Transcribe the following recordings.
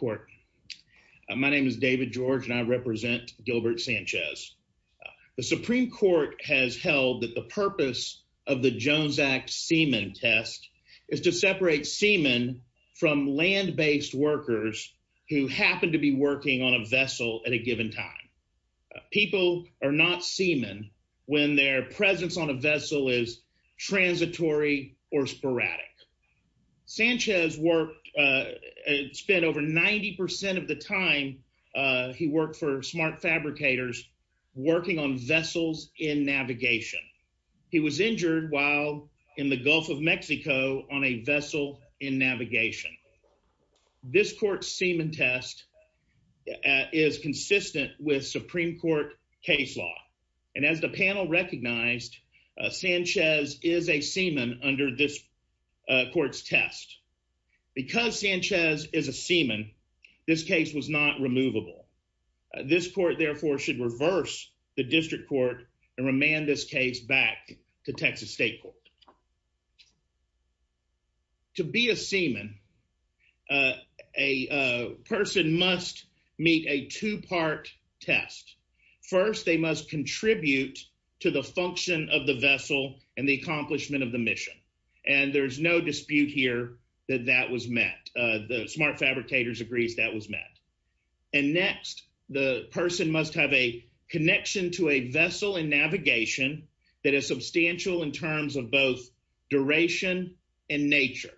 Court. My name is David George and I represent Gilbert Sanchez. The Supreme Court has held that the purpose of the Jones Act semen test is to separate semen from land-based workers who happen to be working on a vessel at a given time. People are not semen when their presence on a vessel is transitory or sporadic. Sanchez worked and spent over 90 percent of the time he worked for Smart Fabricators working on vessels in navigation. He was injured while in the Gulf of Mexico on a vessel in navigation. This court semen test is consistent with Supreme Court case law and as the panel recognized, Sanchez is a semen under this court's test. Because Sanchez is a semen, this case was not removable. This court therefore should reverse the district court and remand this case back to Texas State Court. To be a semen, a person must meet a two-part test. First, they must contribute to the function of the vessel and the accomplishment of the mission. And there's no dispute here that that was met. The Smart Fabricators agrees that was met. And next, the person must have a connection to a vessel in navigation that is substantial in terms of both duration and nature.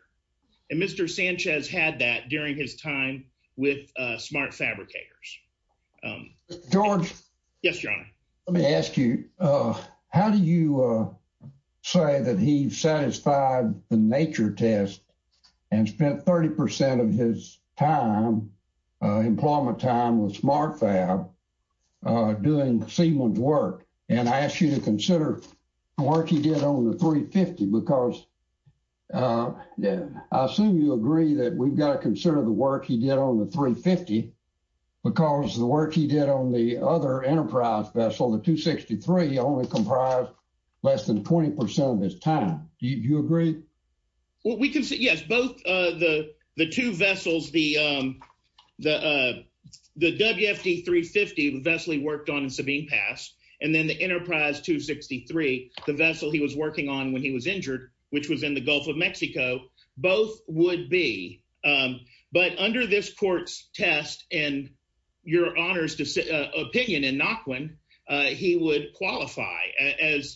And Mr. Sanchez had that during his time with Smart Fabricators. George. Yes, your honor. Let me ask you, how do you say that he satisfied the nature test and spent 30 percent of his time, employment time, with Smart Fab doing semen work? And I ask you to consider the work he did on the 350 because I assume you agree that we've got to consider the work he did on the 350 because the work he did on the other Enterprise vessel, the 263, only comprised less than 20 percent of his time. Do you agree? Well, we can see, yes, both the two vessels, the WFD 350, the vessel he worked on in Sabine Pass, and then the Enterprise 263, the vessel he was working on when he was injured, which was in the Gulf of Mexico, both would be. But under this court's test and your honor's opinion in Nochlin, he would qualify as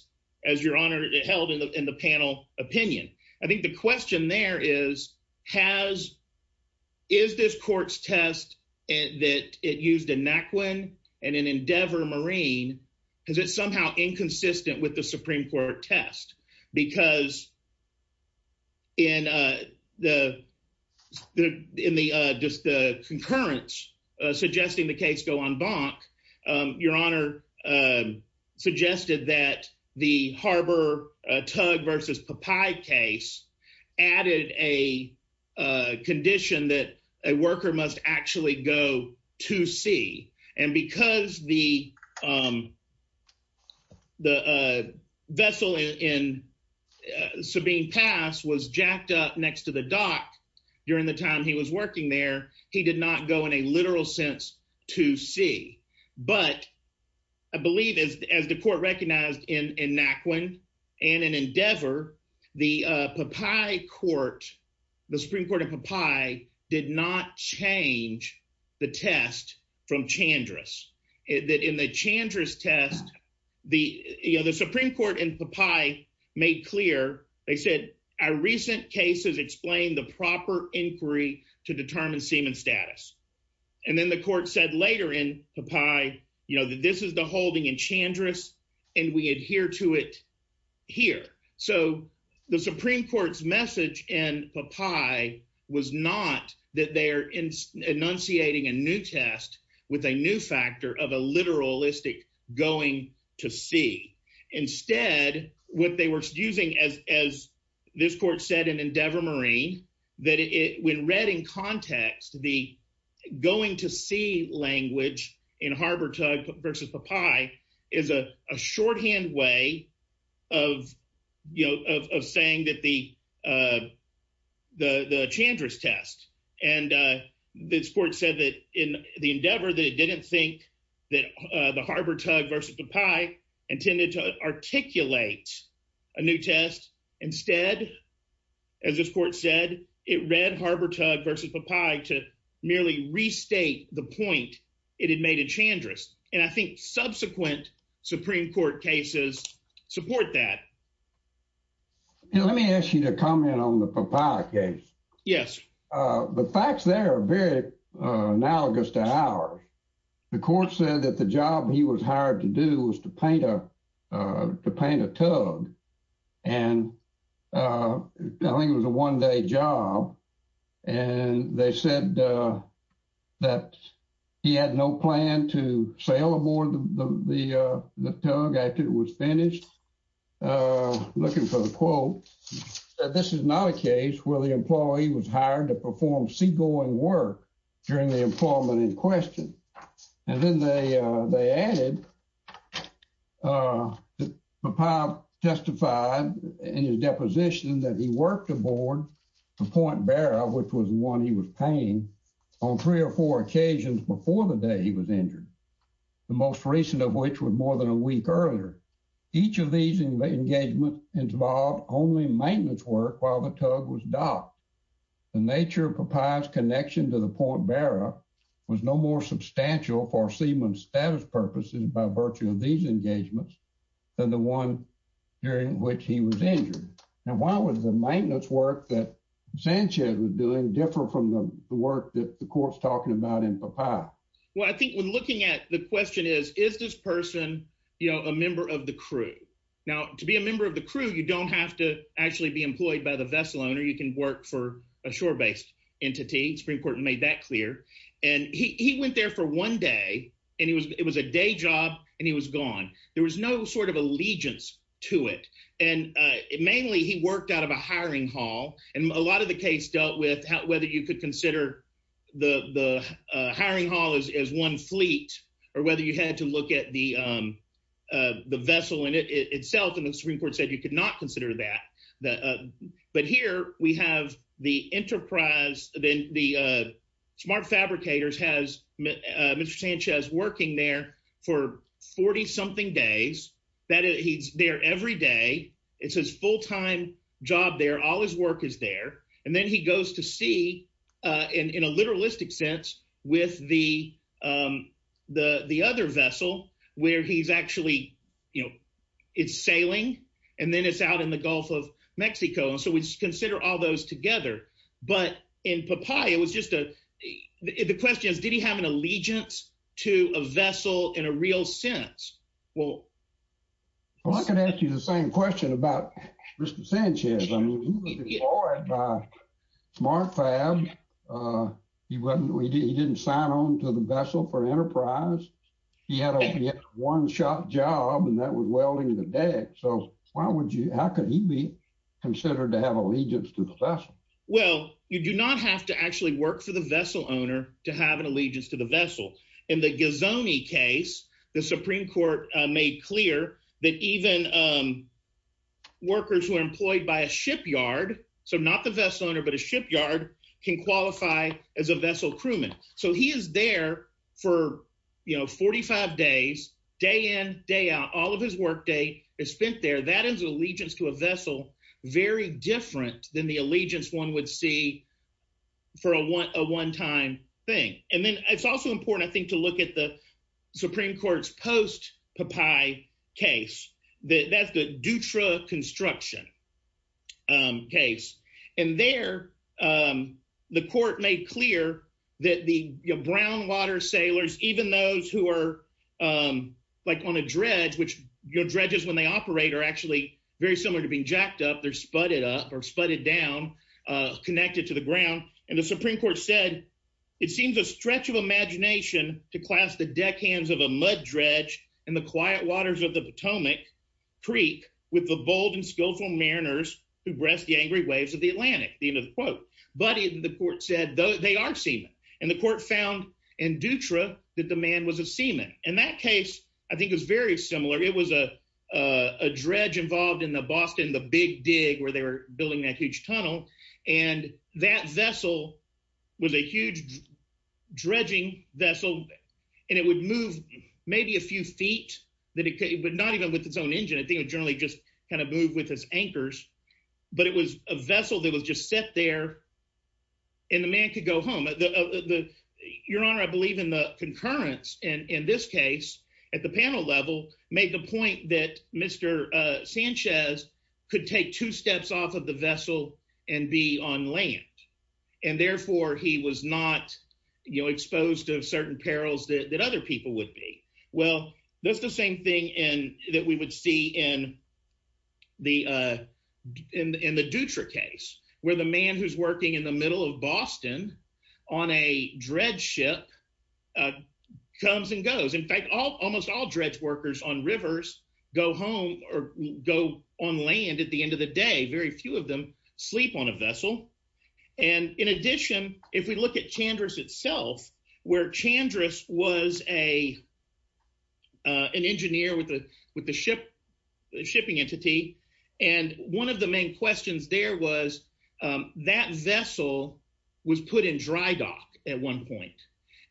your held in the panel opinion. I think the question there is, is this court's test that it used in Nochlin and in Endeavor Marine, is it somehow inconsistent with the Supreme Court test? Because in the concurrence suggesting the case go en banc, your honor suggested that the harbor tug versus papaya case added a condition that a worker must actually go to sea. And because the vessel in Sabine Pass was jacked up next to the dock during the time he was working there, he did not go in a literal sense to sea. But I believe as the court recognized in Nochlin and in Endeavor, the papaya court, the Supreme Court of papaya did not change the test from Chandra's. In the Chandra's test, the, you know, the Supreme Court in papaya made clear, they said, our recent cases explain the proper inquiry to determine seaman status. And then the court said later in papaya, you know, that this is the holding in Chandra's and we adhere to it here. So the Supreme Court's message in papaya was not that they are enunciating a new test with a new factor of a literalistic going to sea. Instead, what they were using as this court said in Endeavor Marine, that it when read in context, the going to sea language in harbor tug versus papaya is a shorthand way of, you know, of saying that the Chandra's test and this court said that the Endeavor, they didn't think that the harbor tug versus papaya intended to articulate a new test. Instead, as this court said, it read harbor tug versus papaya to merely restate the point it had made in Chandra's. And I think subsequent Supreme Court cases support that. Let me ask you to comment on the papaya case. Yes. The facts there are very analogous to ours. The court said that the job he was hired to do was to paint a tug. And I think it was a one day job. And they said that he had no plan to sail aboard the tug after it was finished. Looking for the quote, this is not a case where the employee was hired to perform seagoing work during the employment in question. And then they added, papaya testified in his deposition that he worked aboard the point bearer, which was one he was paying on three or four occasions before the day he was injured. The most recent of which was more than a week earlier. Each of these engagements involved only maintenance work while the tug was docked. The nature of papaya's connection to the point bearer was no more substantial for seaman status purposes by virtue of these engagements than the one during which he was injured. Now, why was the maintenance work that Sanchez was doing different from the work that the court's talking about in papaya? Well, I think when looking at the question is, is this person, you know, a member of the crew? Now, to be a member of the crew, you don't have to actually be employed by the vessel owner. You can work for a shore based entity. Supreme Court made that clear. And he went there for one day, and it was a day job, and he was gone. There was no sort of allegiance to it. And mainly, he worked out of a hiring hall. And a lot of the case dealt with whether you could consider the hiring hall as one fleet or whether you had to look at the vessel in itself. And the Supreme Court said you could not consider that. But here, we have the enterprise, the smart fabricators has Mr. Sanchez working there for 40 something days. He's there every day. It's his full time job there. All his work is there. And then he goes to sea, in a literalistic sense, with the other vessel, where he's actually, you know, it's sailing, and then it's out in the Gulf of Mexico. And so we consider all those together. But in papaya, it was just a, the question is, did he have an allegiance to a vessel in a real sense? Well, I can ask you the same question about Mr. Sanchez. I mean, he was employed by Smart Fab. He wasn't, he didn't sign on to the vessel for enterprise. He had a one-shot job, and that was welding the deck. So why would you, how could he be considered to have allegiance to the vessel? Well, you do not have to actually work for the vessel owner to have an allegiance to the vessel. In the Ghizoni case, the Supreme Court made clear that even workers who are employed by a shipyard, so not the vessel owner, but a shipyard, can qualify as a vessel crewman. So he is there for, you know, 45 days, day in, day out, all of his workday is spent there. That is allegiance to a vessel, very different than the allegiance one would see for a one-time thing. And then it's also important, I think, to look at the Supreme Court's post-Papai case. That's the Dutra construction case. And there, the court made clear that the, you know, brown water sailors, even those who are, like, on a dredge, which, you know, dredges, when they operate, are actually very similar to being jacked up. They're sputted up or sputted down, connected to the ground. And the Supreme Court said, it seems a stretch of imagination to clasp the deckhands of a mud dredge in the quiet waters of the Potomac Creek with the bold and skillful mariners who breast the angry waves of the Atlantic, the end of the quote. But the court said they are seamen, and the court found in Dutra that the man was a seaman. And that case, I think, is very similar. It was a dredge involved in the Boston, the Big Dig, where they were building that huge tunnel, and that vessel was a huge dredging vessel, and it would move maybe a few feet, but not even with its own engine. I think it generally just kind of moved with its anchors. But it was a vessel that was just set there, and the man could go home. Your Honor, I believe in the concurrence, and in this case, at the panel level, made the point that Mr. Sanchez could take two steps off the vessel and be on land, and therefore he was not, you know, exposed to certain perils that other people would be. Well, that's the same thing that we would see in the Dutra case, where the man who's working in the middle of Boston on a dredge ship comes and goes. In fact, almost all dredge workers on rivers go home or go on land at the end of the day. Very few of them sleep on a vessel, and in addition, if we look at Chandris itself, where Chandris was an engineer with the shipping entity, and one of the main questions there was that vessel was put in dry dock at one point,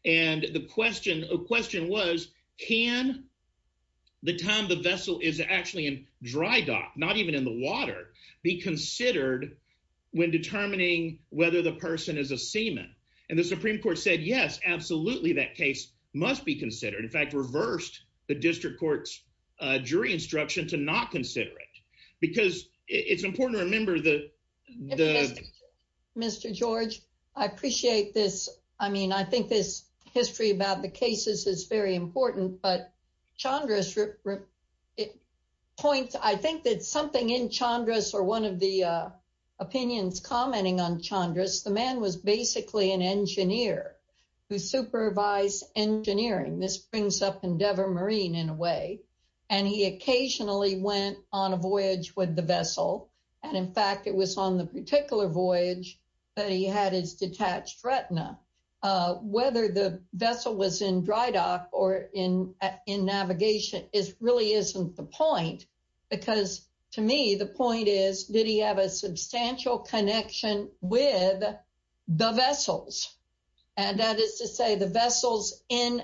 and the question was, can the time the vessel is actually in dry dock, not even in the water, be considered when determining whether the person is a seaman? And the Supreme Court said, yes, absolutely, that case must be considered. In fact, reversed the district court's jury instruction to not consider it, because it's important to know. Mr. George, I appreciate this. I mean, I think this history about the cases is very important, but Chandris points, I think that something in Chandris or one of the opinions commenting on Chandris, the man was basically an engineer who supervised engineering. This brings up Endeavor Marine in a way, and he occasionally went on a voyage with the vessel, and in fact, it was on the particular voyage that he had his detached retina. Whether the vessel was in dry dock or in navigation really isn't the point, because to me, the point is, did he have a substantial connection with the vessels? And that is to say, the vessels in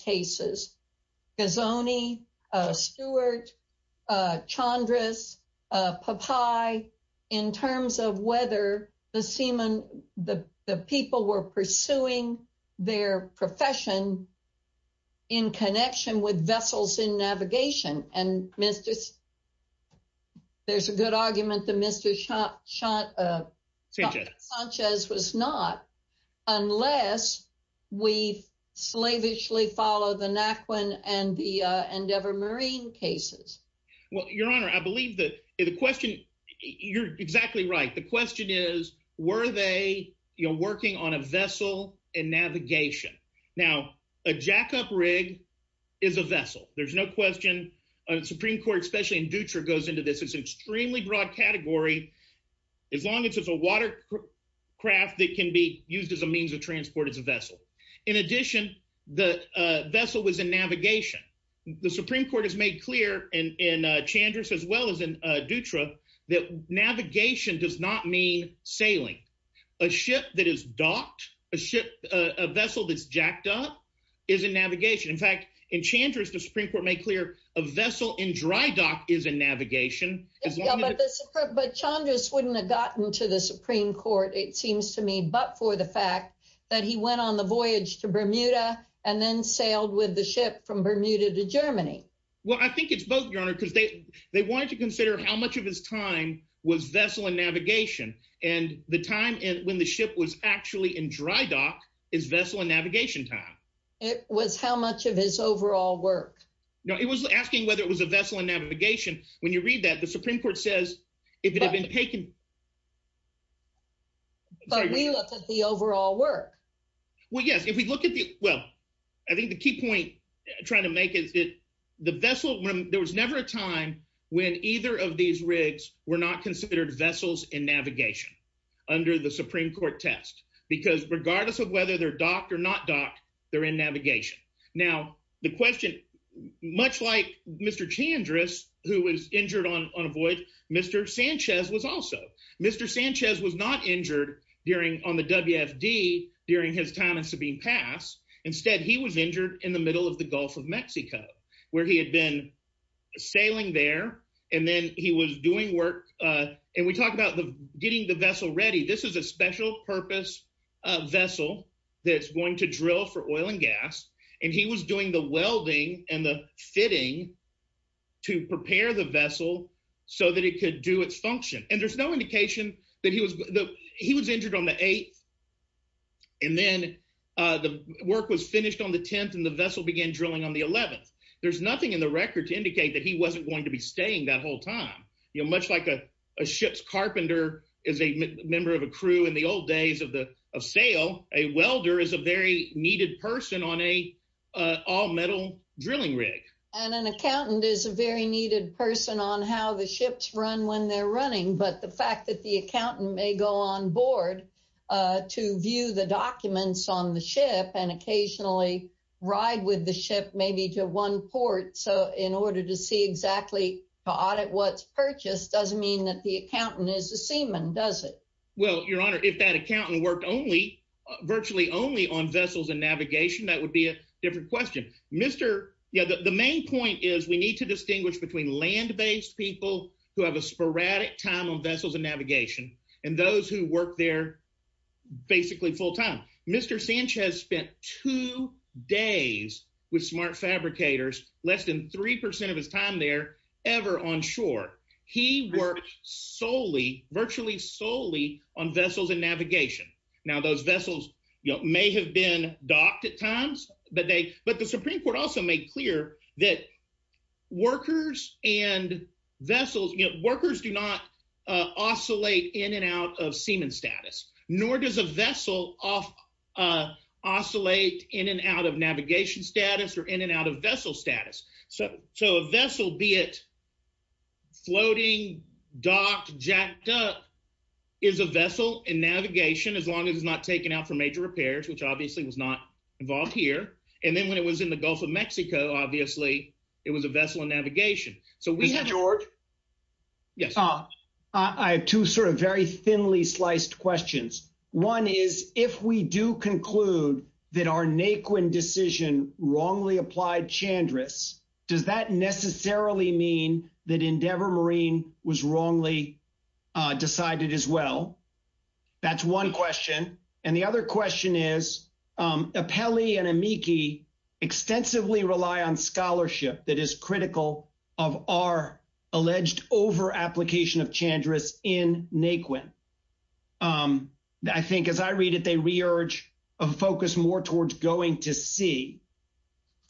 cases, Gazzone, Stewart, Chandris, Popeye, in terms of whether the people were pursuing their profession in connection with vessels in navigation. And there's a good argument that they didn't follow the Naquan and the Endeavor Marine cases. Well, Your Honor, I believe that the question, you're exactly right. The question is, were they working on a vessel in navigation? Now, a jackup rig is a vessel. There's no question. Supreme Court, especially in Dutcher, goes into this. It's an extremely broad category. As long as it's a water craft that can be used as a transport, it's a vessel. In addition, the vessel was in navigation. The Supreme Court has made clear in Chandris as well as in Dutcher that navigation does not mean sailing. A ship that is docked, a vessel that's jacked up, is in navigation. In fact, in Chandris, the Supreme Court made clear a vessel in dry dock is in navigation. But Chandris wouldn't have gotten to the Supreme Court, it seems to me, but for the fact that he went on the voyage to Bermuda and then sailed with the ship from Bermuda to Germany. Well, I think it's both, Your Honor, because they wanted to consider how much of his time was vessel in navigation. And the time when the ship was actually in dry dock is vessel in navigation time. It was how much of his overall work. No, it was asking whether it was a vessel in navigation. When you read that, the Supreme Court has taken... But we look at the overall work. Well, yes, if we look at the... Well, I think the key point trying to make is that the vessel... There was never a time when either of these rigs were not considered vessels in navigation under the Supreme Court test, because regardless of whether they're docked or not docked, they're in navigation. Now, the question, much like Mr. Chandris, who was injured on a voyage, Mr. Sanchez was also. Mr. Sanchez was not injured on the WFD during his time in Sabine Pass. Instead, he was injured in the middle of the Gulf of Mexico, where he had been sailing there. And then he was doing work... And we talked about getting the vessel ready. This is a special purpose vessel that's going to drill for oil and gas. And he was doing the welding and the preparing the vessel so that it could do its function. And there's no indication that he was... He was injured on the 8th, and then the work was finished on the 10th, and the vessel began drilling on the 11th. There's nothing in the record to indicate that he wasn't going to be staying that whole time. You know, much like a ship's carpenter is a member of a crew in the old days of the... of sail, a welder is a very needed person on a all-metal drilling rig. And an accountant is a very needed person on how the ships run when they're running. But the fact that the accountant may go on board to view the documents on the ship and occasionally ride with the ship maybe to one port, so in order to see exactly to audit what's purchased, doesn't mean that the accountant is a seaman, does it? Well, Your Honor, if that accountant worked only... virtually only on vessels and between land-based people who have a sporadic time on vessels and navigation, and those who work there basically full-time. Mr. Sanchez spent two days with smart fabricators, less than three percent of his time there, ever on shore. He worked solely, virtually solely, on vessels and navigation. Now, those vessels, you know, may have been docked at times, but they... but the Supreme Court also made clear that workers and vessels, you know, workers do not oscillate in and out of seaman status, nor does a vessel off... oscillate in and out of navigation status or in and out of vessel status. So a vessel, be it floating, docked, jacked up, is a vessel in navigation as long as it's not taken out for major repairs, which obviously was not involved here, and then when it was in the Gulf of Mexico, obviously, it was a vessel in navigation. So we have... Mr. George? Yes. I have two sort of very thinly sliced questions. One is, if we do conclude that our Naquin decision wrongly applied Chandra's, does that necessarily mean that Endeavor Marine was wrongly decided as well? That's one question, and the other question is, Apelli and Amici extensively rely on scholarship that is critical of our alleged over-application of Chandra's in Naquin. I think, as I read it, they re-urge a focus more towards going to sea.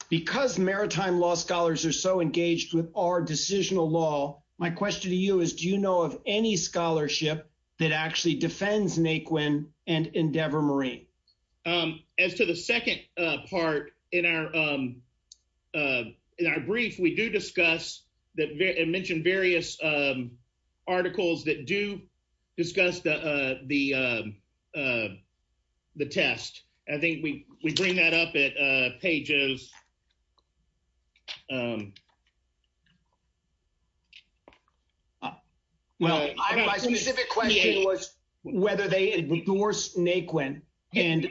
Because maritime law scholars are so engaged with our decisional law, my question to you is, do you know of any scholarship that actually defends Naquin and Endeavor Marine? As to the second part in our brief, we do discuss and mention various articles that do discuss the test. I think we bring that up at pages... Well, my specific question was whether they endorse Naquin, and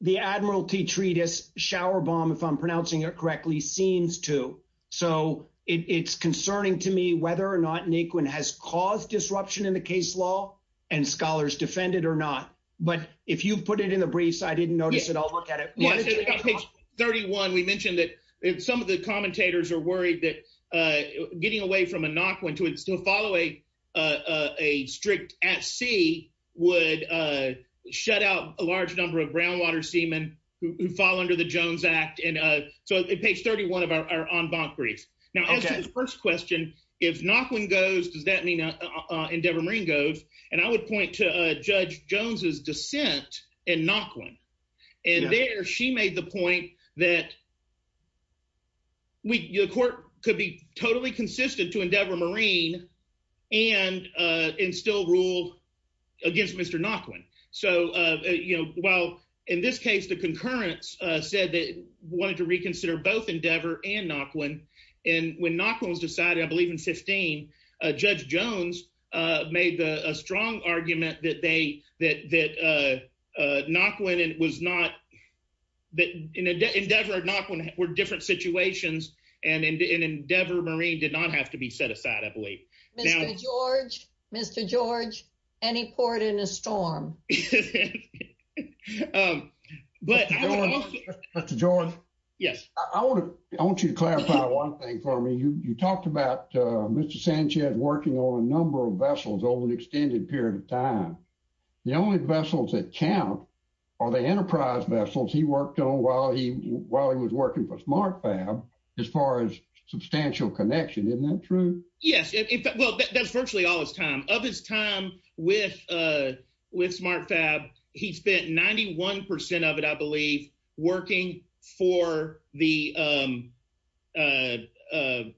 the Admiralty treatise, Showerbomb, if I'm pronouncing it correctly, seems to. So it's concerning to me whether or not Naquin has caused disruption in the case law and scholars defend it or not. But if you put it in the briefs, I didn't notice it. I'll look at it. On page 31, we mentioned that some of the commentators are worried that getting away from a Naquin to follow a strict at sea would shut out a large number of groundwater seamen who fall under the Jones Act. So on page 31 of our en banc brief. Now, as to the first question, if Naquin goes, does that mean Endeavor Marine goes? And I would point to Judge Jones's dissent in Naquin. And there, she made the point that the court could be totally consistent to Endeavor Marine and still rule against Mr. Naquin. So while in this case, the concurrence said they wanted to reconsider both Endeavor and Naquin, and when Naquin was decided, I believe in 15, Judge Jones made a strong argument that that Naquin was not, that Endeavor and Naquin were different situations, and Endeavor Marine did not have to be set aside, I believe. Mr. George, Mr. George, any port in a storm? Mr. George? Yes. I want you to clarify one thing for me. You talked about Mr. Sanchez working on a number of vessels over an extended period of time. The only vessels that count are the enterprise vessels he worked on while he was working for SmartFab as far as substantial connection. Isn't that true? Yes. Well, that's virtually all his time. Of his time with SmartFab, he spent 91% of it, I believe, working for the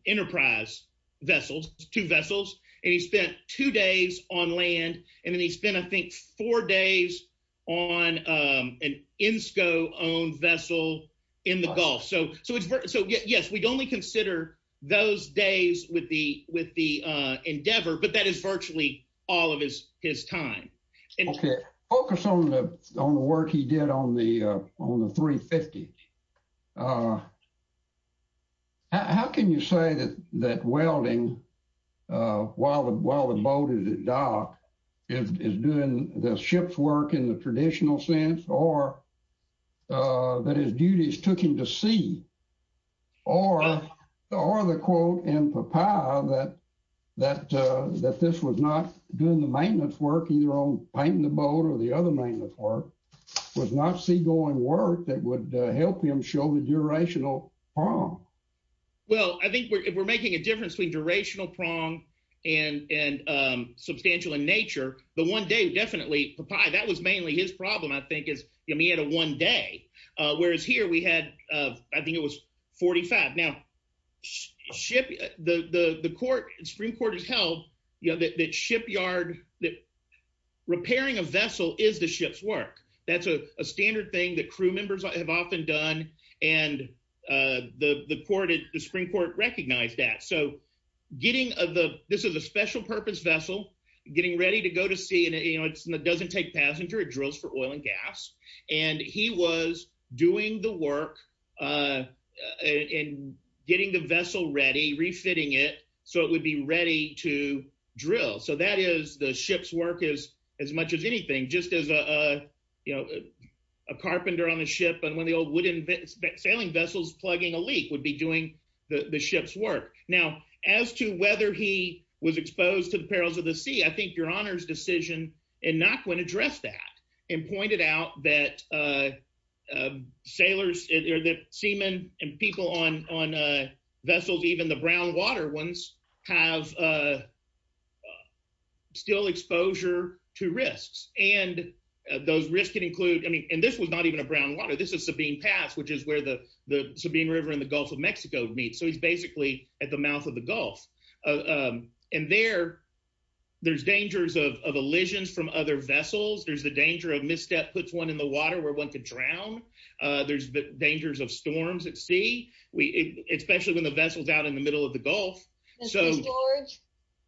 enterprise vessels, two vessels, and he spent two days on land, and then he spent, I think, four days on an Insco-owned vessel in the Gulf. So yes, we'd only consider those days with the Endeavor, but that is virtually all of his time. Okay, focus on the work he did on the 350. How can you say that welding while the boat is docked is doing the ship's work in the traditional sense, or that his duties took him to sea, or the quote in papaya that this was not doing the maintenance work, either on painting the boat or the other maintenance work, was not seagoing work that would help him show the durational prong? Well, I think we're making a difference between durational prong and substantial in nature. The one day, definitely, papaya, that was mainly his problem, I think, is he had a one day, whereas here we had, I think, was 45. Now, the Supreme Court has held that shipyard, that repairing a vessel is the ship's work. That's a standard thing that crew members have often done, and the Supreme Court recognized that. So this is a special purpose vessel getting ready to go to sea, and it doesn't take passenger, it drills for oil and gas, and he was doing the work in getting the vessel ready, refitting it, so it would be ready to drill. So that is the ship's work as much as anything, just as a, you know, a carpenter on a ship and one of the old wooden sailing vessels plugging a leak would be doing the ship's work. Now, as to whether he was exposed to the perils of the sea, I think your Honor's decision in Nakhwen addressed that and pointed out that sailors, or that seamen and people on vessels, even the brown water ones, have still exposure to risks, and those risks can include, I mean, and this was not even a brown water, this is Sabine Pass, which is where the Sabine River in the Gulf of Mexico meets, so he's basically at the mouth of the Gulf, and there there's dangers of of elisions from other vessels, there's the danger of misstep puts one in the water where one could drown, there's the dangers of storms at sea, especially when the vessel's out in the middle of the Gulf. Mr. George,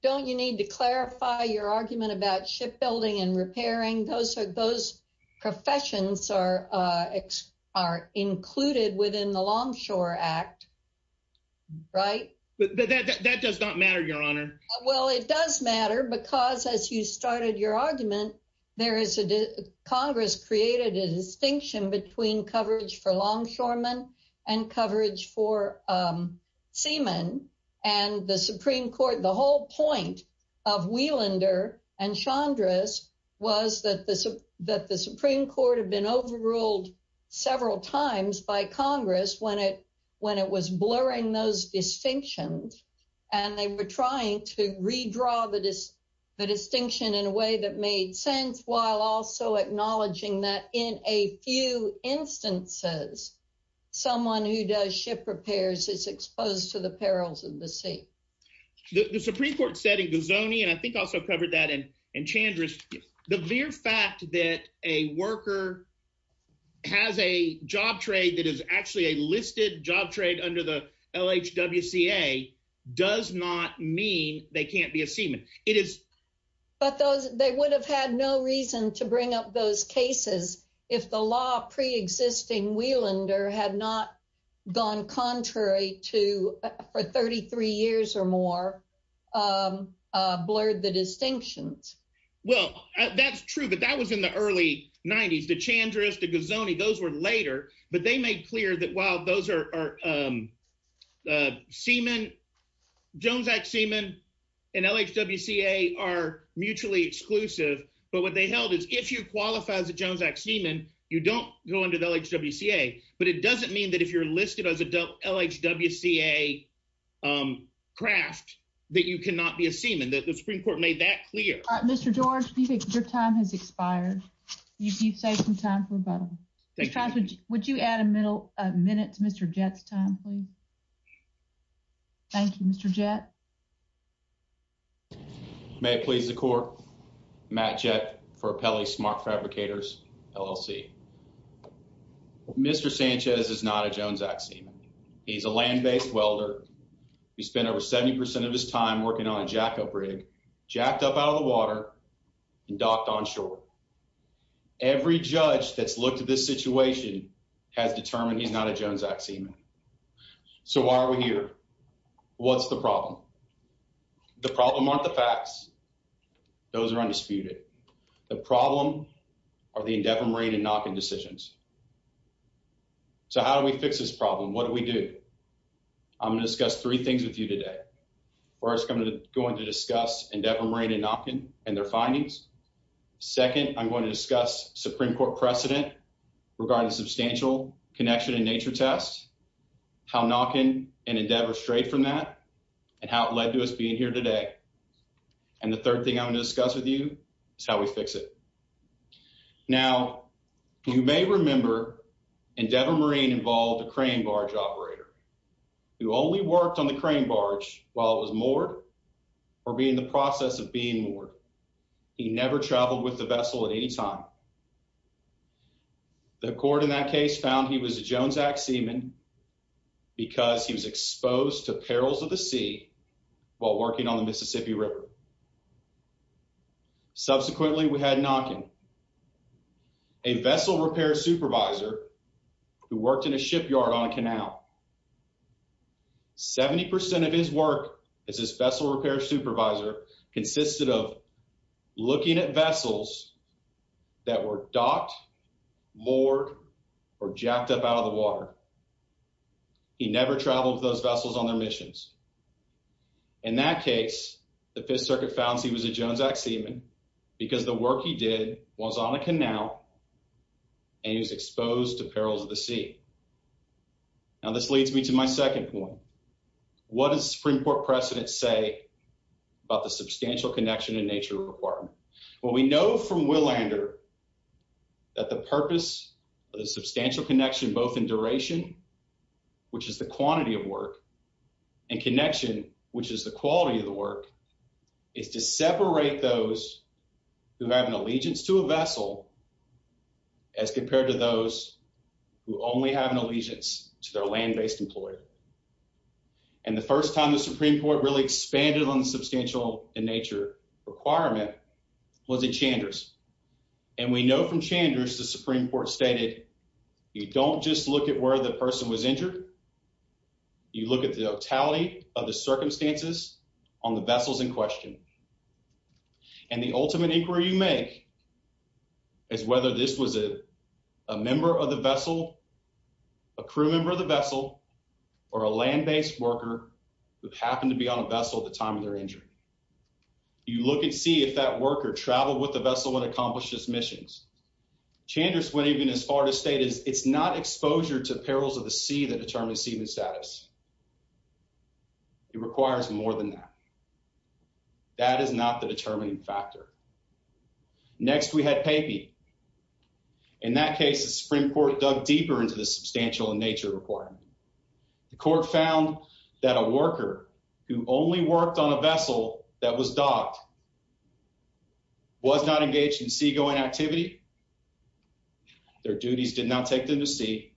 don't you need to clarify your argument about shipbuilding and repairing? Those professions are included within the agreement. Well, it does matter because, as you started your argument, Congress created a distinction between coverage for longshoremen and coverage for seamen, and the Supreme Court, the whole point of Wielander and Chandra's was that the Supreme Court had been overruled several times by Congress when it was blurring those distinctions, and they were trying to redraw the distinction in a way that made sense while also acknowledging that in a few instances someone who does ship repairs is exposed to the perils of the sea. The Supreme Court said in has a job trade that is actually a listed job trade under the LHWCA does not mean they can't be a seaman. But they would have had no reason to bring up those cases if the law pre-existing Wielander had not gone contrary to for 33 years or more, blurred the distinctions. Well, that's in the early 90s. The Chandra's, the Gazzone, those were later, but they made clear that while Jones Act seamen and LHWCA are mutually exclusive, but what they held is if you qualify as a Jones Act seaman, you don't go under the LHWCA, but it doesn't mean that if you're listed as a LHWCA craft that you cannot be a seaman. The Supreme Court made that clear. Mr. George, your time has expired. You've saved some time for rebuttal. Would you add a minute to Mr. Jett's time, please? Thank you, Mr. Jett. May it please the court. Matt Jett for Appelli Smart Fabricators, LLC. Mr. Sanchez is not a Jones Act seaman. He's a land-based welder. He spent over 70 percent of his time working on a and docked on shore. Every judge that's looked at this situation has determined he's not a Jones Act seaman. So why are we here? What's the problem? The problem aren't the facts. Those are undisputed. The problem are the Endeavor Marine and Nopkin decisions. So how do we fix this problem? What do we do? I'm going to discuss three things with you today. First, I'm going to discuss Endeavor Marine and Nopkin and their findings. Second, I'm going to discuss Supreme Court precedent regarding substantial connection and nature tests, how Nopkin and Endeavor strayed from that, and how it led to us being here today. And the third thing I'm going to discuss with you is how we fix it. Now, you may remember Endeavor Marine involved a crane barge operator who only worked on the while it was moored or being in the process of being moored. He never traveled with the vessel at any time. The court in that case found he was a Jones Act seaman because he was exposed to perils of the sea while working on the Mississippi River. Subsequently, we had Nopkin, a vessel repair supervisor who worked in a shipyard on a canal. 70% of his work as his vessel repair supervisor consisted of looking at vessels that were docked, moored, or jacked up out of the water. He never traveled with those vessels on their missions. In that case, the Fifth Circuit found he was a Jones Act seaman because the work he did was on a my second point. What does the Supreme Court precedent say about the substantial connection and nature requirement? Well, we know from Willander that the purpose of the substantial connection both in duration, which is the quantity of work, and connection, which is the quality of the work, is to separate those who have an allegiance to a vessel as compared to those who only have an allegiance to their land-based employer. And the first time the Supreme Court really expanded on the substantial in nature requirement was at Chanders. And we know from Chanders the Supreme Court stated, you don't just look at where the person was injured, you look at the totality of the circumstances on the vessels in question. And the ultimate inquiry you make is whether this was a member of the vessel, a crew member of the vessel, or a land-based worker who happened to be on a vessel at the time of their injury. You look and see if that worker traveled with the vessel when it accomplished its missions. Chanders went even as far to state it's not exposure to perils of the sea that determines seaman status. It requires more than that. That is not the determining factor. Next we had Papey. In that case, the Supreme Court dug deeper into the substantial in nature requirement. The court found that a worker who only worked on a vessel that was docked was not engaged in seagoing activity, their duties did not take them to sea,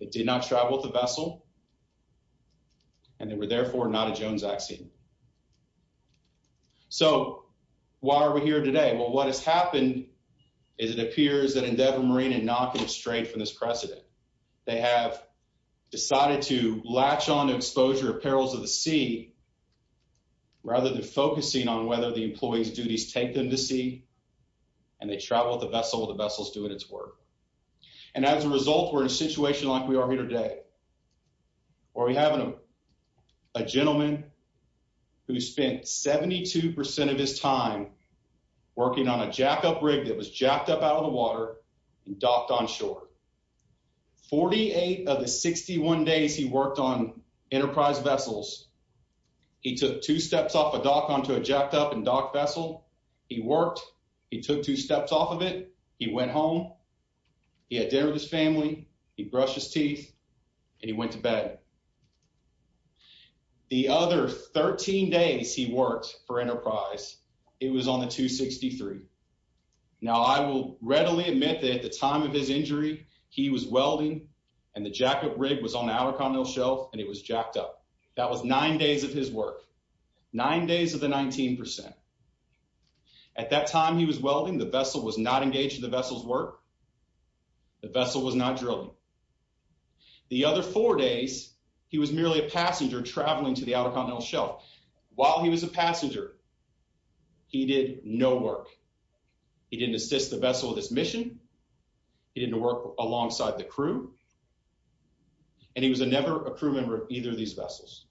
they did not travel with the vessel, and they were therefore not a Jones accident. So why are we here today? Well, what has happened is it appears that Endeavor Marine is knocking it straight from this precedent. They have decided to latch on to exposure of perils of the sea rather than focusing on whether the employee's duties take them to sea and they travel with the vessel with the vessels doing its work. And as a result, we're in a situation like we are here today where we have a gentleman who spent 72% of his time working on a jackup rig that was jacked up out of the water and docked on shore. 48 of the 61 days he worked on Enterprise vessels, he took two steps off a dock onto a jacked up and docked vessel. He worked, he took two steps off of it, he went home, he had dinner with his family, he brushed his teeth, and he went to bed. The other 13 days he worked for Enterprise, it was on the 263. Now I will readily admit that at the time of his injury, he was welding, and the jackup rig was on the outer continental shelf, and it was jacked up. That was nine days of his work. Nine days of the 19%. At that time he was welding, the vessel was not engaged in the vessel's work, the vessel was not drilling. The other four days, he was merely a passenger traveling to the outer continental shelf. While he was a passenger, he did no work. He didn't assist the vessel with its mission, he didn't work alongside the crew, and he was never a crew member of either of these vessels.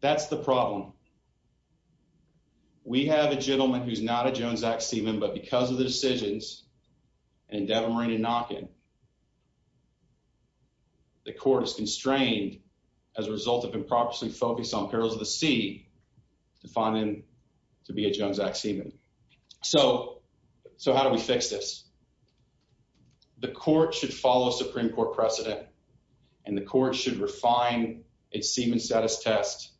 That's the problem. We have a gentleman who's not a Jones-Zack Seaman, but because of the decisions and Devon-Marina knocking, the court is constrained as a result of improperly focused on Perils of the Sea to find him to be a Jones-Zack Seaman. So, so how do we fix this? The court should follow Supreme Court precedent, and the court should refine its Seaman status test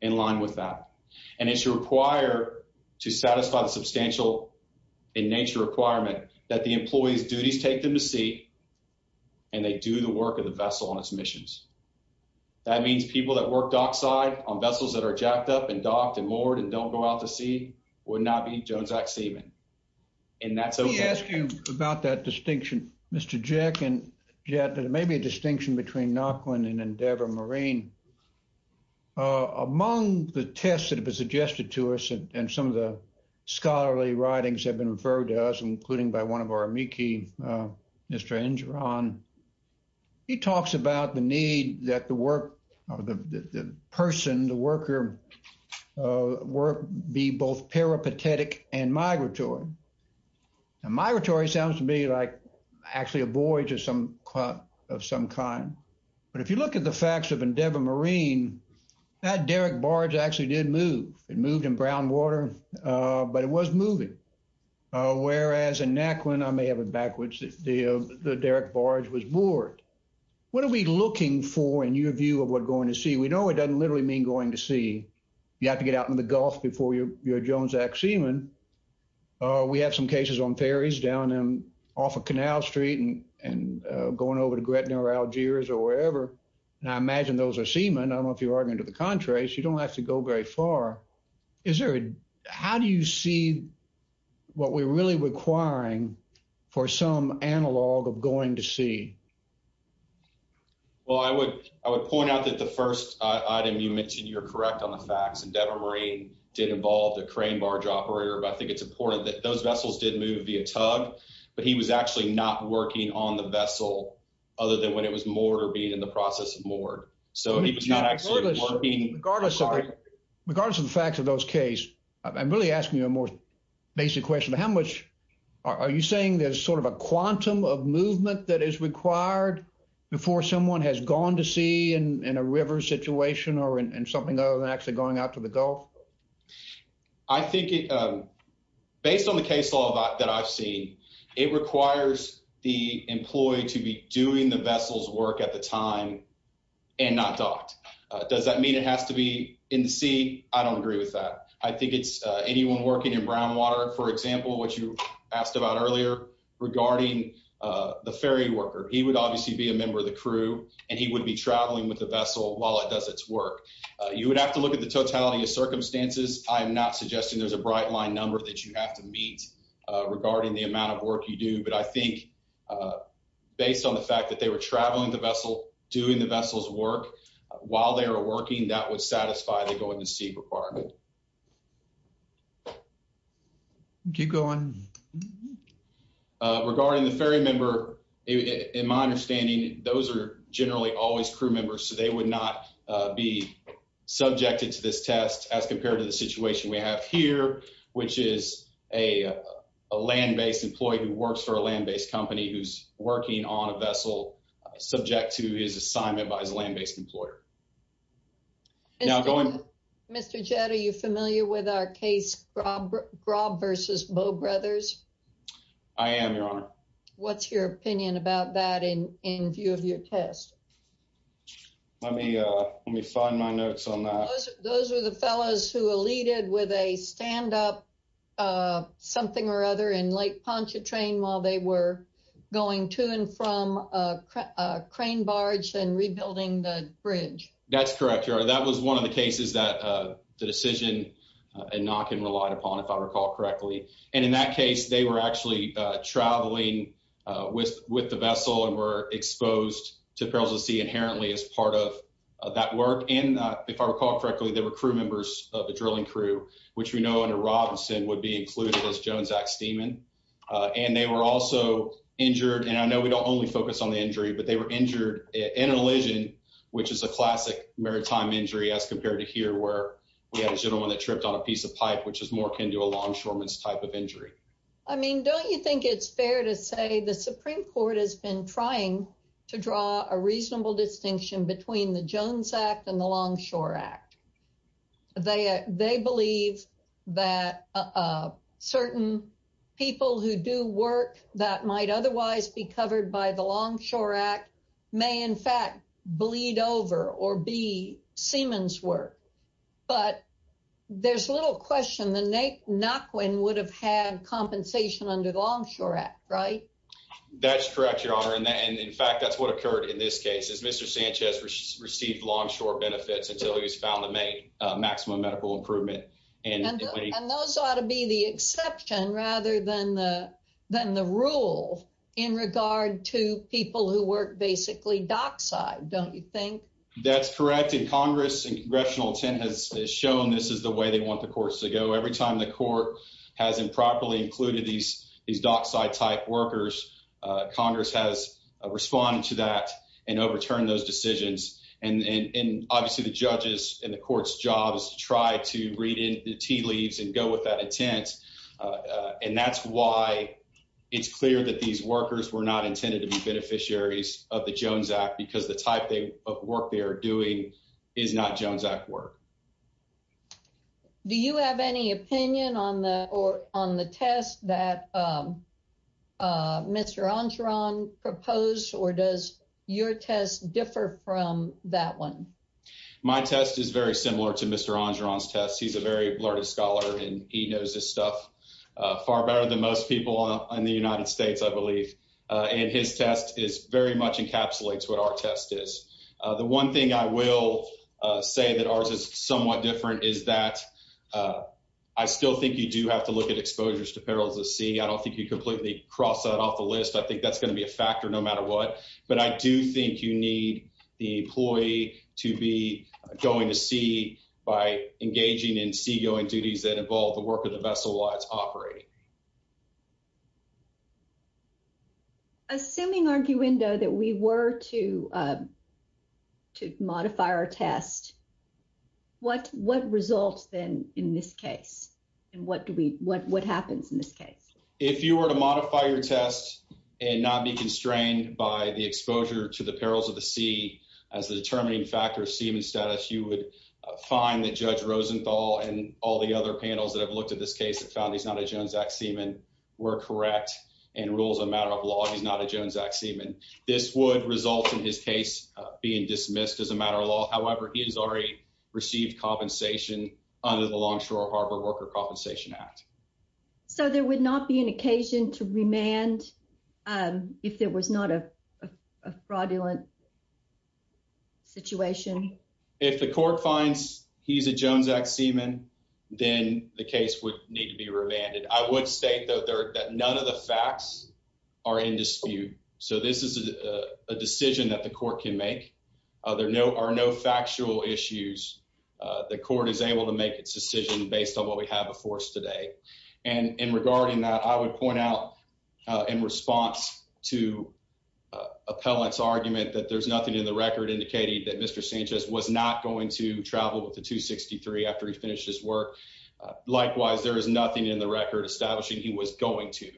in line with that, and it should require to satisfy the substantial in nature requirement that the employee's duties take them to sea, and they do the work of the vessel on its missions. That means people that work dockside on vessels that are jacked up and docked and moored and don't go out to sea would not be Jones-Zack Seaman, and that's okay. Let me ask you about that distinction, Mr. Jack, and yet there may be a distinction between Knockland and Endeavor Marine. Among the tests that have been suggested to us, and some of the scholarly writings have been referred to us, including by one of our amici, Mr. Angeron, on, he talks about the need that the work, or the person, the worker, be both peripatetic and migratory. Migratory sounds to me like actually a voyage of some kind, but if you look at the facts of Endeavor Marine, that derrick barge actually did move. It moved in brown water, but it was moving, whereas in Knockland, I may have it backwards, the derrick barge was moored. What are we looking for in your view of what going to sea? We know it doesn't literally mean going to sea. You have to get out in the Gulf before you're a Jones-Zack Seaman. We have some cases on ferries down off of Canal Street and going over to Gretna or Algiers or wherever, and I imagine those are seamen. I don't know if you're arguing to the contrary, so you don't have to go very far. How do you see what we're really requiring for some analog of going to sea? Well, I would point out that the first item you mentioned, you're correct on the facts, Endeavor Marine did involve the crane barge operator, but I think it's important that those vessels did move via tug, but he was actually not working on the vessel other than when it was moored or being in the process of moored, so he was not actually working. Regardless of the facts of those case, I'm really asking you a more basic question. Are you saying there's sort of a quantum of movement that is required before someone has gone to sea in a river situation or in something other than actually going out to the Gulf? I think based on the case law that I've seen, it requires the employee to be doing the vessel's work at the time and not docked. Does that mean it has to be in the sea? I don't agree with that. I think it's anyone working in brown water, for example, what you asked about earlier regarding the ferry worker, he would obviously be a member of the crew and he would be traveling with the vessel while it does its work. You would have to look at the totality of circumstances. I'm not suggesting there's a bright line number that you have to meet regarding the amount of work you do, but I think based on the fact that they were traveling the requirement. Keep going. Regarding the ferry member, in my understanding, those are generally always crew members, so they would not be subjected to this test as compared to the situation we have here, which is a land-based employee who works for a land-based company, who's working on a vessel subject to his assignment by his land-based employer. Now going. Mr. Jett, are you familiar with our case, Grob versus Bow Brothers? I am, your honor. What's your opinion about that in view of your test? Let me find my notes on that. Those are the fellows who eluded with a stand-up, something or other, in Lake Pontchartrain while they were going to and from a crane barge and That's correct, your honor. That was one of the cases that the decision and knock and relied upon, if I recall correctly. And in that case, they were actually traveling with the vessel and were exposed to perils of the sea inherently as part of that work. And if I recall correctly, they were crew members of the drilling crew, which we know under Robinson would be included as Jones X Steeman. And they were also injured, and I know we don't only focus on the injury, but they were maritime injury as compared to here, where we had a gentleman that tripped on a piece of pipe, which is more akin to a longshoreman's type of injury. I mean, don't you think it's fair to say the Supreme Court has been trying to draw a reasonable distinction between the Jones Act and the Longshore Act? They believe that certain people who do work that might otherwise be covered by the Longshore Act may in fact bleed over or be Siemens work. But there's a little question the neck knock when would have had compensation under the Longshore Act, right? That's correct, your honor. And in fact, that's what occurred in this case is Mr. Sanchez received longshore benefits until he was found to make maximum medical improvement. And those ought to be the exception rather than the rule in regard to people who work basically dockside, don't you think? That's correct. And Congress and congressional intent has shown this is the way they want the courts to go. Every time the court has improperly included these dockside type workers, Congress has responded to that and overturned those decisions. And obviously the judges and the court's job is to try to read in the tea leaves and go with that intent. And that's why it's clear that these workers were not intended to be beneficiaries of the Jones Act because the type of work they are doing is not Jones Act work. Do you have any opinion on the on the test that Mr. Angeron proposed or does your test differ from that one? My test is very similar to Mr. Angeron's test. He's a very learned scholar and he knows this stuff far better than most people in the United States, I believe. And his test is very much encapsulates what our test is. The one thing I will say that ours is somewhat different is that I still think you do have to see. I don't think you completely cross that off the list. I think that's going to be a factor no matter what. But I do think you need the employee to be going to see by engaging in seagoing duties that involve the work of the vessel while it's operating. Assuming arguendo that we were to modify our test, what results then in this case? And what do we what what happens in this case? If you were to modify your test and not be constrained by the exposure to the perils of the sea as the determining factor of seaman status, you would find that Judge Rosenthal and all the other panels that have looked at this case have found he's not a Jones Act seaman were correct and rules a matter of law. He's not a Jones Act seaman. This would result in his case being dismissed as a matter of law. However, he has received compensation under the Longshore Harbor Worker Compensation Act. So there would not be an occasion to remand if there was not a fraudulent situation? If the court finds he's a Jones Act seaman, then the case would need to be remanded. I would state that none of the facts are in dispute. So this is a decision that the court can make. There are no factual issues. The court is able to make its decision based on what we have before us today. And in regarding that, I would point out in response to Appellant's argument that there's nothing in the record indicating that Mr. Sanchez was not going to travel to 263 after he finished his work. Likewise, there is nothing in the record establishing he was going to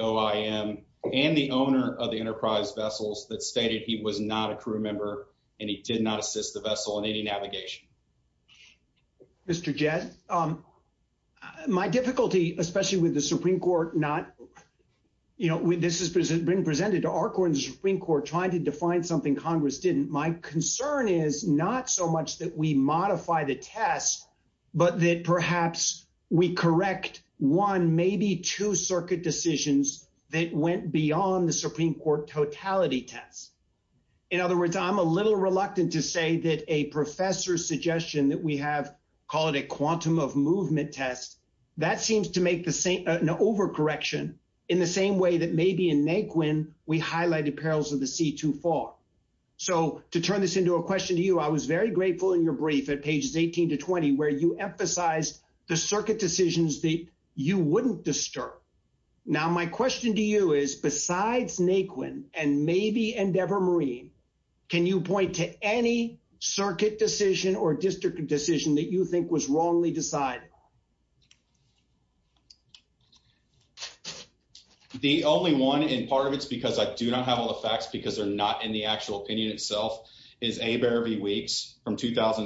OIM and the owner of the Enterprise vessels that stated he was not a crew member and he did not assist the vessel in any navigation. Mr. Jett, my difficulty, especially with the Supreme Court, this has been presented to our court and the Supreme Court trying to define something Congress didn't. My concern is not so much that we modify the test, but that perhaps we correct one, maybe two circuit decisions that went beyond the Supreme Court totality test. In other words, I'm a little reluctant to say that a professor's suggestion that we have, call it a quantum of movement test, that seems to make an overcorrection in the same way that maybe in Naquin we highlighted perils of the sea too far. So to turn this into a question to you, I was very grateful in your brief at pages 18 to 20, where you emphasized the circuit decisions that you wouldn't disturb. Now, my question to you is besides Naquin and maybe Endeavor Marine, can you point to any circuit decision or district decision that you think was wrongly decided? The only one in part of it's because I do not have all the facts because they're not in the district. I do not have all the facts because they're not in the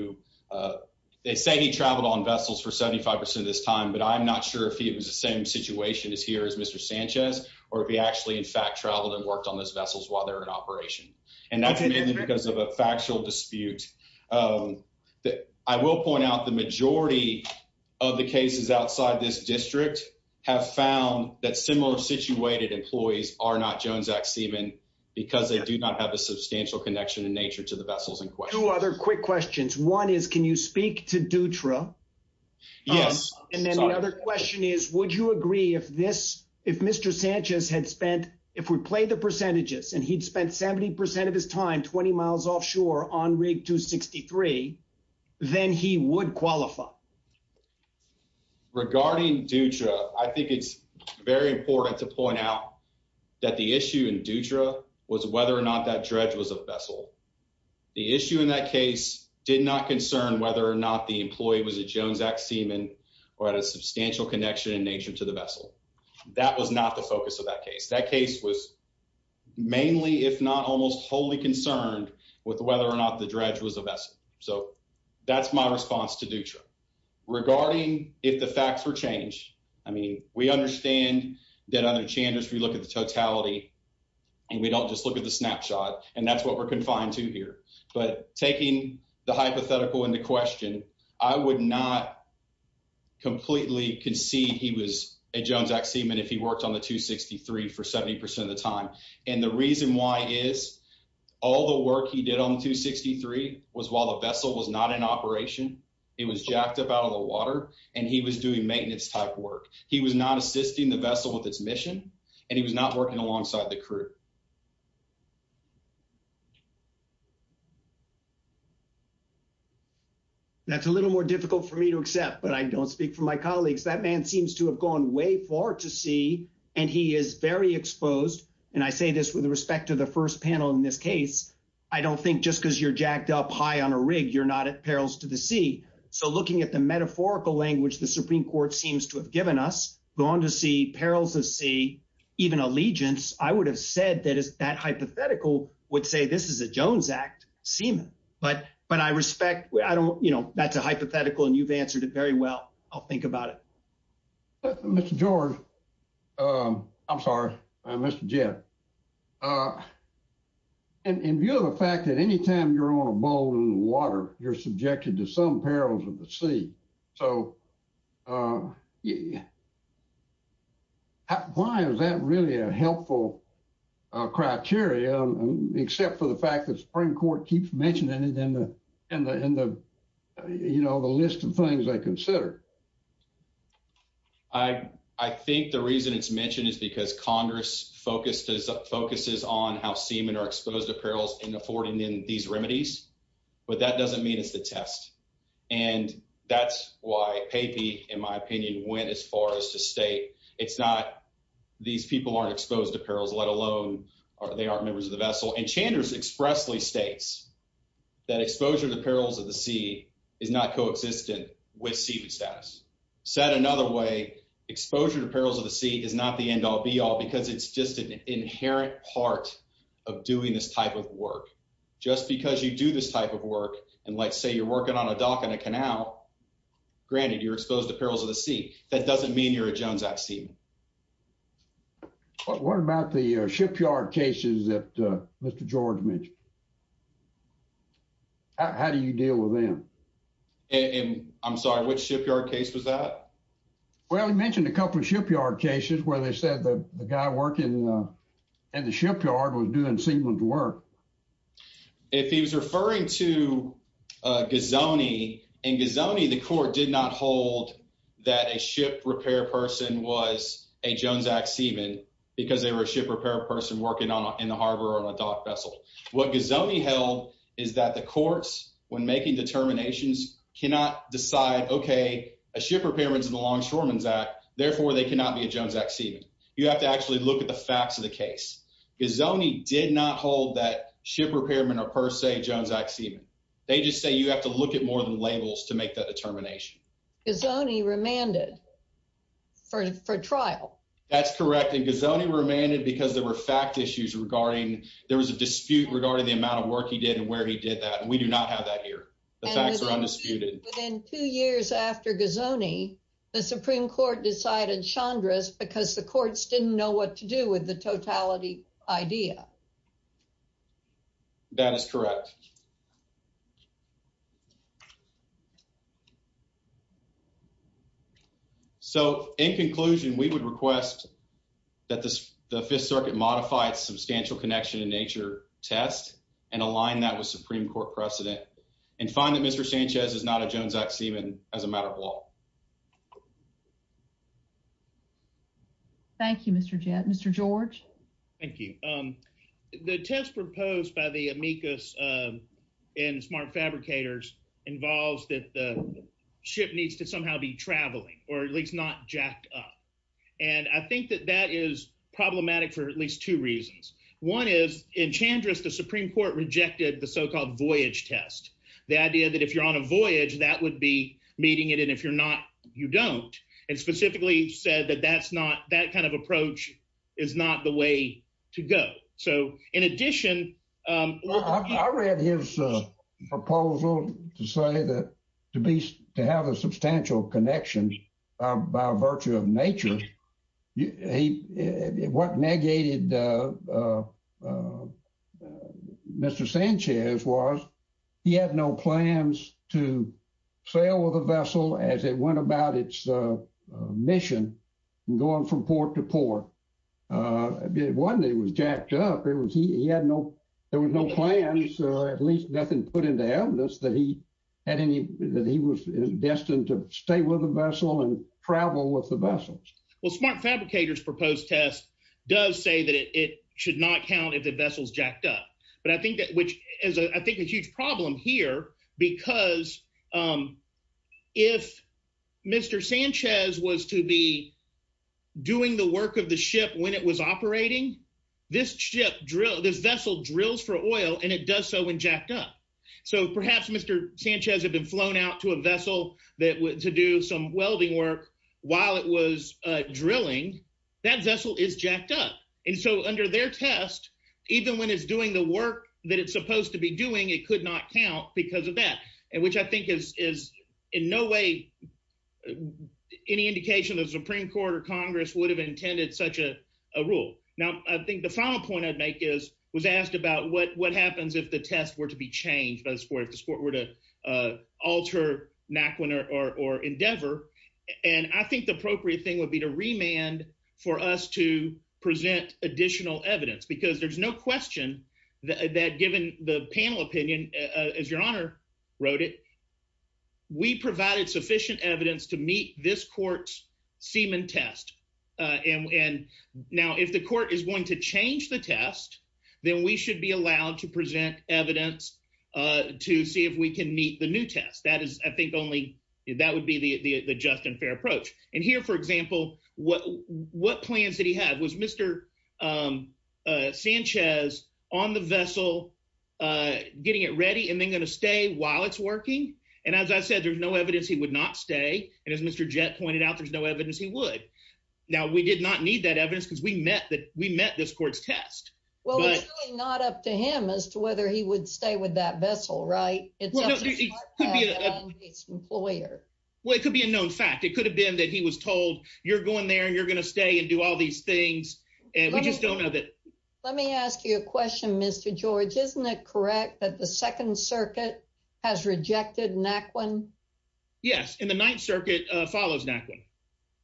district. They say he traveled on vessels for 75% of his time, but I'm not sure if he was the same situation as here as Mr. Sanchez, or if he actually in fact traveled and worked on those vessels while they were in operation. And that's mainly because of a factual dispute. I will point out the majority of the cases outside this district have found that similar employees are not Jones Act seamen because they do not have a substantial connection in nature to the vessels in question. Two other quick questions. One is, can you speak to Dutra? Yes. And then the other question is, would you agree if this, if Mr. Sanchez had spent, if we play the percentages and he'd spent 70% of his time, 20 miles offshore on rig 263, then he would qualify. Regarding Dutra, I think it's very important to point out that the issue in Dutra was whether or not that dredge was a vessel. The issue in that case did not concern whether or not the employee was a Jones Act seaman or had a substantial connection in nature to the vessel. That was not the focus of that case. That case was mainly, if not almost wholly concerned with whether or not the dredge was a vessel. So that's my response to Dutra. Regarding if the facts were changed, I mean, we understand that under Chandler's, we look at the totality and we don't just look at the snapshot and that's what we're confined to here. But taking the hypothetical into question, I would not completely concede he was a Jones Act seaman if he worked on the 263 for 70% of the time. And the reason why is all the work he did on 263 was while the vessel was not in operation, it was jacked up out of the water and he was doing maintenance type work. He was not assisting the vessel with its mission and he was not working alongside the crew. That's a little more difficult for me to accept, but I don't speak for my colleagues. That man seems to have gone way far to sea and he is very exposed. And I say this with respect to the first panel in this case, I don't think just because you're jacked up high on a rig, you're not at perils to the sea. So looking at the metaphorical language the Supreme Court seems to have given us, gone to sea, perils of sea, even allegiance, I would have said that that hypothetical would say this is a Jones Act seaman. But I respect, I don't, you know, that's a hypothetical and you've answered it very well. I'll think about it. Mr. George, I'm sorry, Mr. Jett. In view of the fact that anytime you're on a boat in the water, you're subjected to some perils of the sea. So why is that really a helpful criteria, except for the fact that Supreme Court keeps mentioning it in the list of things they consider? I think the reason it's mentioned is because Congress focuses on how seamen are exposed to perils in affording them these remedies, but that doesn't mean it's the test. And that's why PAPI, in my opinion, went as far as to state it's not, these people aren't exposed to perils, let alone they aren't members of the vessel. And Chandler's expressly states that exposure to perils of the sea is not coexistent with seaman status. Said another way, exposure to perils of the sea is not the end all be all because it's just an inherent part of doing this type of work. Just because you do this type of work and let's say you're working on a dock and a canal, granted, you're exposed to perils of the sea. That doesn't mean you're a Jones Act seaman. What about the shipyard cases that Mr. George mentioned? How do you deal with them? And I'm sorry, which shipyard case was that? Well, he mentioned a couple of shipyard cases where they said that the guy working in the shipyard was doing seamen's work. If he was referring to Gazzone, in Gazzone the court did not hold that a ship repair person was a Jones Act seaman because they were a ship repair person working in the harbor on a dock vessel. What Gazzone held is that the courts, when making determinations, cannot decide, okay, a ship repairman's in the Longshoremen's Act, therefore they cannot be a Jones Act seaman. You have to actually look at the facts of the case. Gazzone did not hold that ship repairman or per se Jones Act seaman. They just say you have to look at more than labels to make that determination. Gazzone remanded for trial. That's correct. And Gazzone remanded because there were fact issues regarding, there was a dispute regarding the amount of work he did and where he did that. We do not have that here. The facts are undisputed. And within two years after Gazzone, the Supreme Court decided Chandra's because the courts didn't know what to do with the totality idea. That is correct. Okay. So in conclusion, we would request that the Fifth Circuit modify its substantial connection to nature test and align that with Supreme Court precedent and find that Mr. Sanchez is not a Jones Act seaman as a matter of law. Thank you, Mr. Jett. Mr. George. Thank you. The test proposed by the amicus and smart fabricators involves that the ship needs to somehow be traveling or at least not jacked up. And I think that that is problematic for at least two reasons. One is in Chandra's, the Supreme Court rejected the so-called voyage test, the idea that if you're on a voyage, that would be meeting it. And if you're not, you don't. And specifically said that that's not that kind of approach is not the way to go. So in addition, I read his proposal to say that to be to have a substantial connection by virtue of nature, what negated Mr. Sanchez was he had no plans to sail with a vessel as it about its mission going from port to port. One, it was jacked up. It was he had no there was no plans, at least nothing put into evidence that he had any that he was destined to stay with a vessel and travel with the vessels. Well, smart fabricators proposed test does say that it should not count if the vessels jacked up. But I think that which is, I think, a huge problem here, because if Mr. Sanchez was to be doing the work of the ship when it was operating, this ship drill, this vessel drills for oil, and it does so when jacked up. So perhaps Mr. Sanchez had been flown out to a vessel that went to do some welding work while it was drilling that vessel is jacked up. And so under their test, even when it's doing the work that it's supposed to be doing, it could not count because of that. And which I think is is in no way any indication of the Supreme Court or Congress would have intended such a rule. Now, I think the final point I'd make is was asked about what what happens if the test were to be changed by the sport, if the sport were to alter or endeavor. And I think the appropriate thing would be to remand for us to present additional evidence, because there's no question that given the panel opinion, as Your Honor wrote it, we provided sufficient evidence to meet this court's semen test. And now if the court is going to change the test, then we should be allowed to present evidence to see if we can meet the new test. I think only that would be the just and fair approach. And here, for example, what what plans that he had was Mr. Sanchez on the vessel, getting it ready and then going to stay while it's working. And as I said, there's no evidence he would not stay. And as Mr. Jett pointed out, there's no evidence he would. Now, we did not need that evidence because we met that we met this court's test. Well, it's not up to him as to whether he would stay with that vessel. Right. Well, it could be a known fact. It could have been that he was told you're going there and you're going to stay and do all these things. And we just don't know that. Let me ask you a question, Mr. George. Isn't it correct that the Second Circuit has rejected Naquin? Yes. And the Ninth Circuit follows Naquin.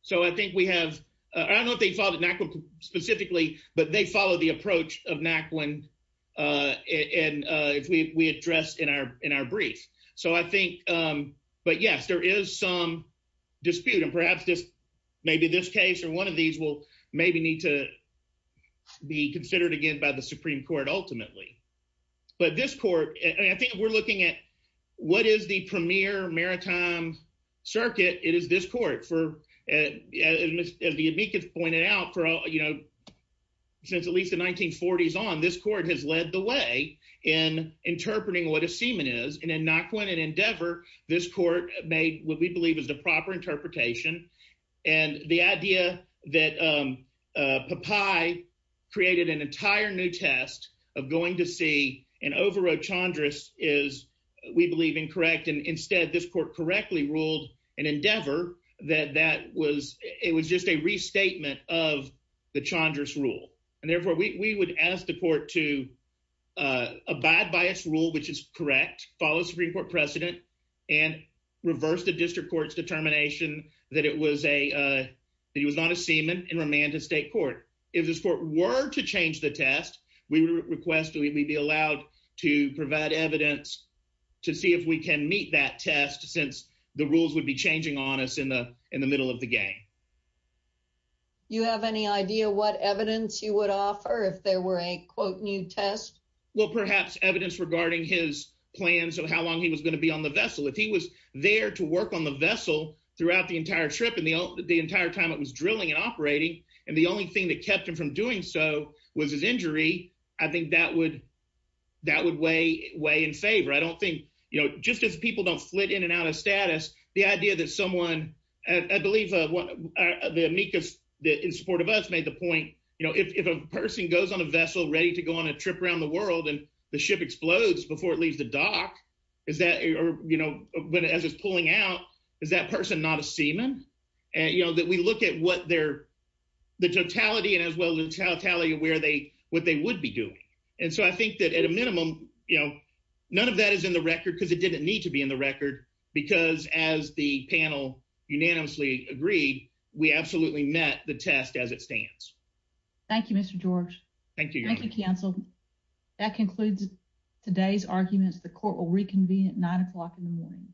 So I think we have I don't know if they followed Naquin specifically, but they follow the approach of Naquin. And if we address in our in our brief. So I think but yes, there is some dispute and perhaps this maybe this case or one of these will maybe need to be considered again by the Supreme Court ultimately. But this court, I think we're looking at what is the premier maritime circuit? It is this court for as the amicus pointed out for, you know, since at least the 1940s on this court has led the way in interpreting what a seaman is. And in Naquin and Endeavor, this court made what we believe is the proper interpretation. And the idea that Popeye created an entire new test of going to sea and overrode Chandris is, we believe, incorrect. And instead, this court correctly ruled in Endeavor that that was it was just a restatement of the Chandris rule. And therefore, we would ask the court to abide by its rule, which is correct, follow Supreme Court precedent and reverse the district court's determination that it was a that he was not a seaman and remand to state court. If this court were to change the test, we would request that we be allowed to provide evidence to see if we can meet that test since the rules would be changing on us in the in the middle of game. You have any idea what evidence you would offer if there were a quote new test? Well, perhaps evidence regarding his plans of how long he was going to be on the vessel. If he was there to work on the vessel throughout the entire trip and the entire time it was drilling and operating. And the only thing that kept him from doing so was his injury. I think that would that would weigh in favor. I don't think, you know, just as people don't flit in and out of status, the idea that someone, I believe, the amicus that in support of us made the point, you know, if a person goes on a vessel ready to go on a trip around the world and the ship explodes before it leaves the dock, is that or, you know, but as it's pulling out, is that person not a seaman? And, you know, that we look at what they're the totality and as well as how tally where they what they would be doing. And so I think that at a minimum, you know, none of that is in the record because it didn't need to be in the record. Because as the panel unanimously agreed, we absolutely met the test as it stands. Thank you, Mr. George. Thank you. Thank you, counsel. That concludes today's arguments. The court will reconvene at nine o'clock in the morning.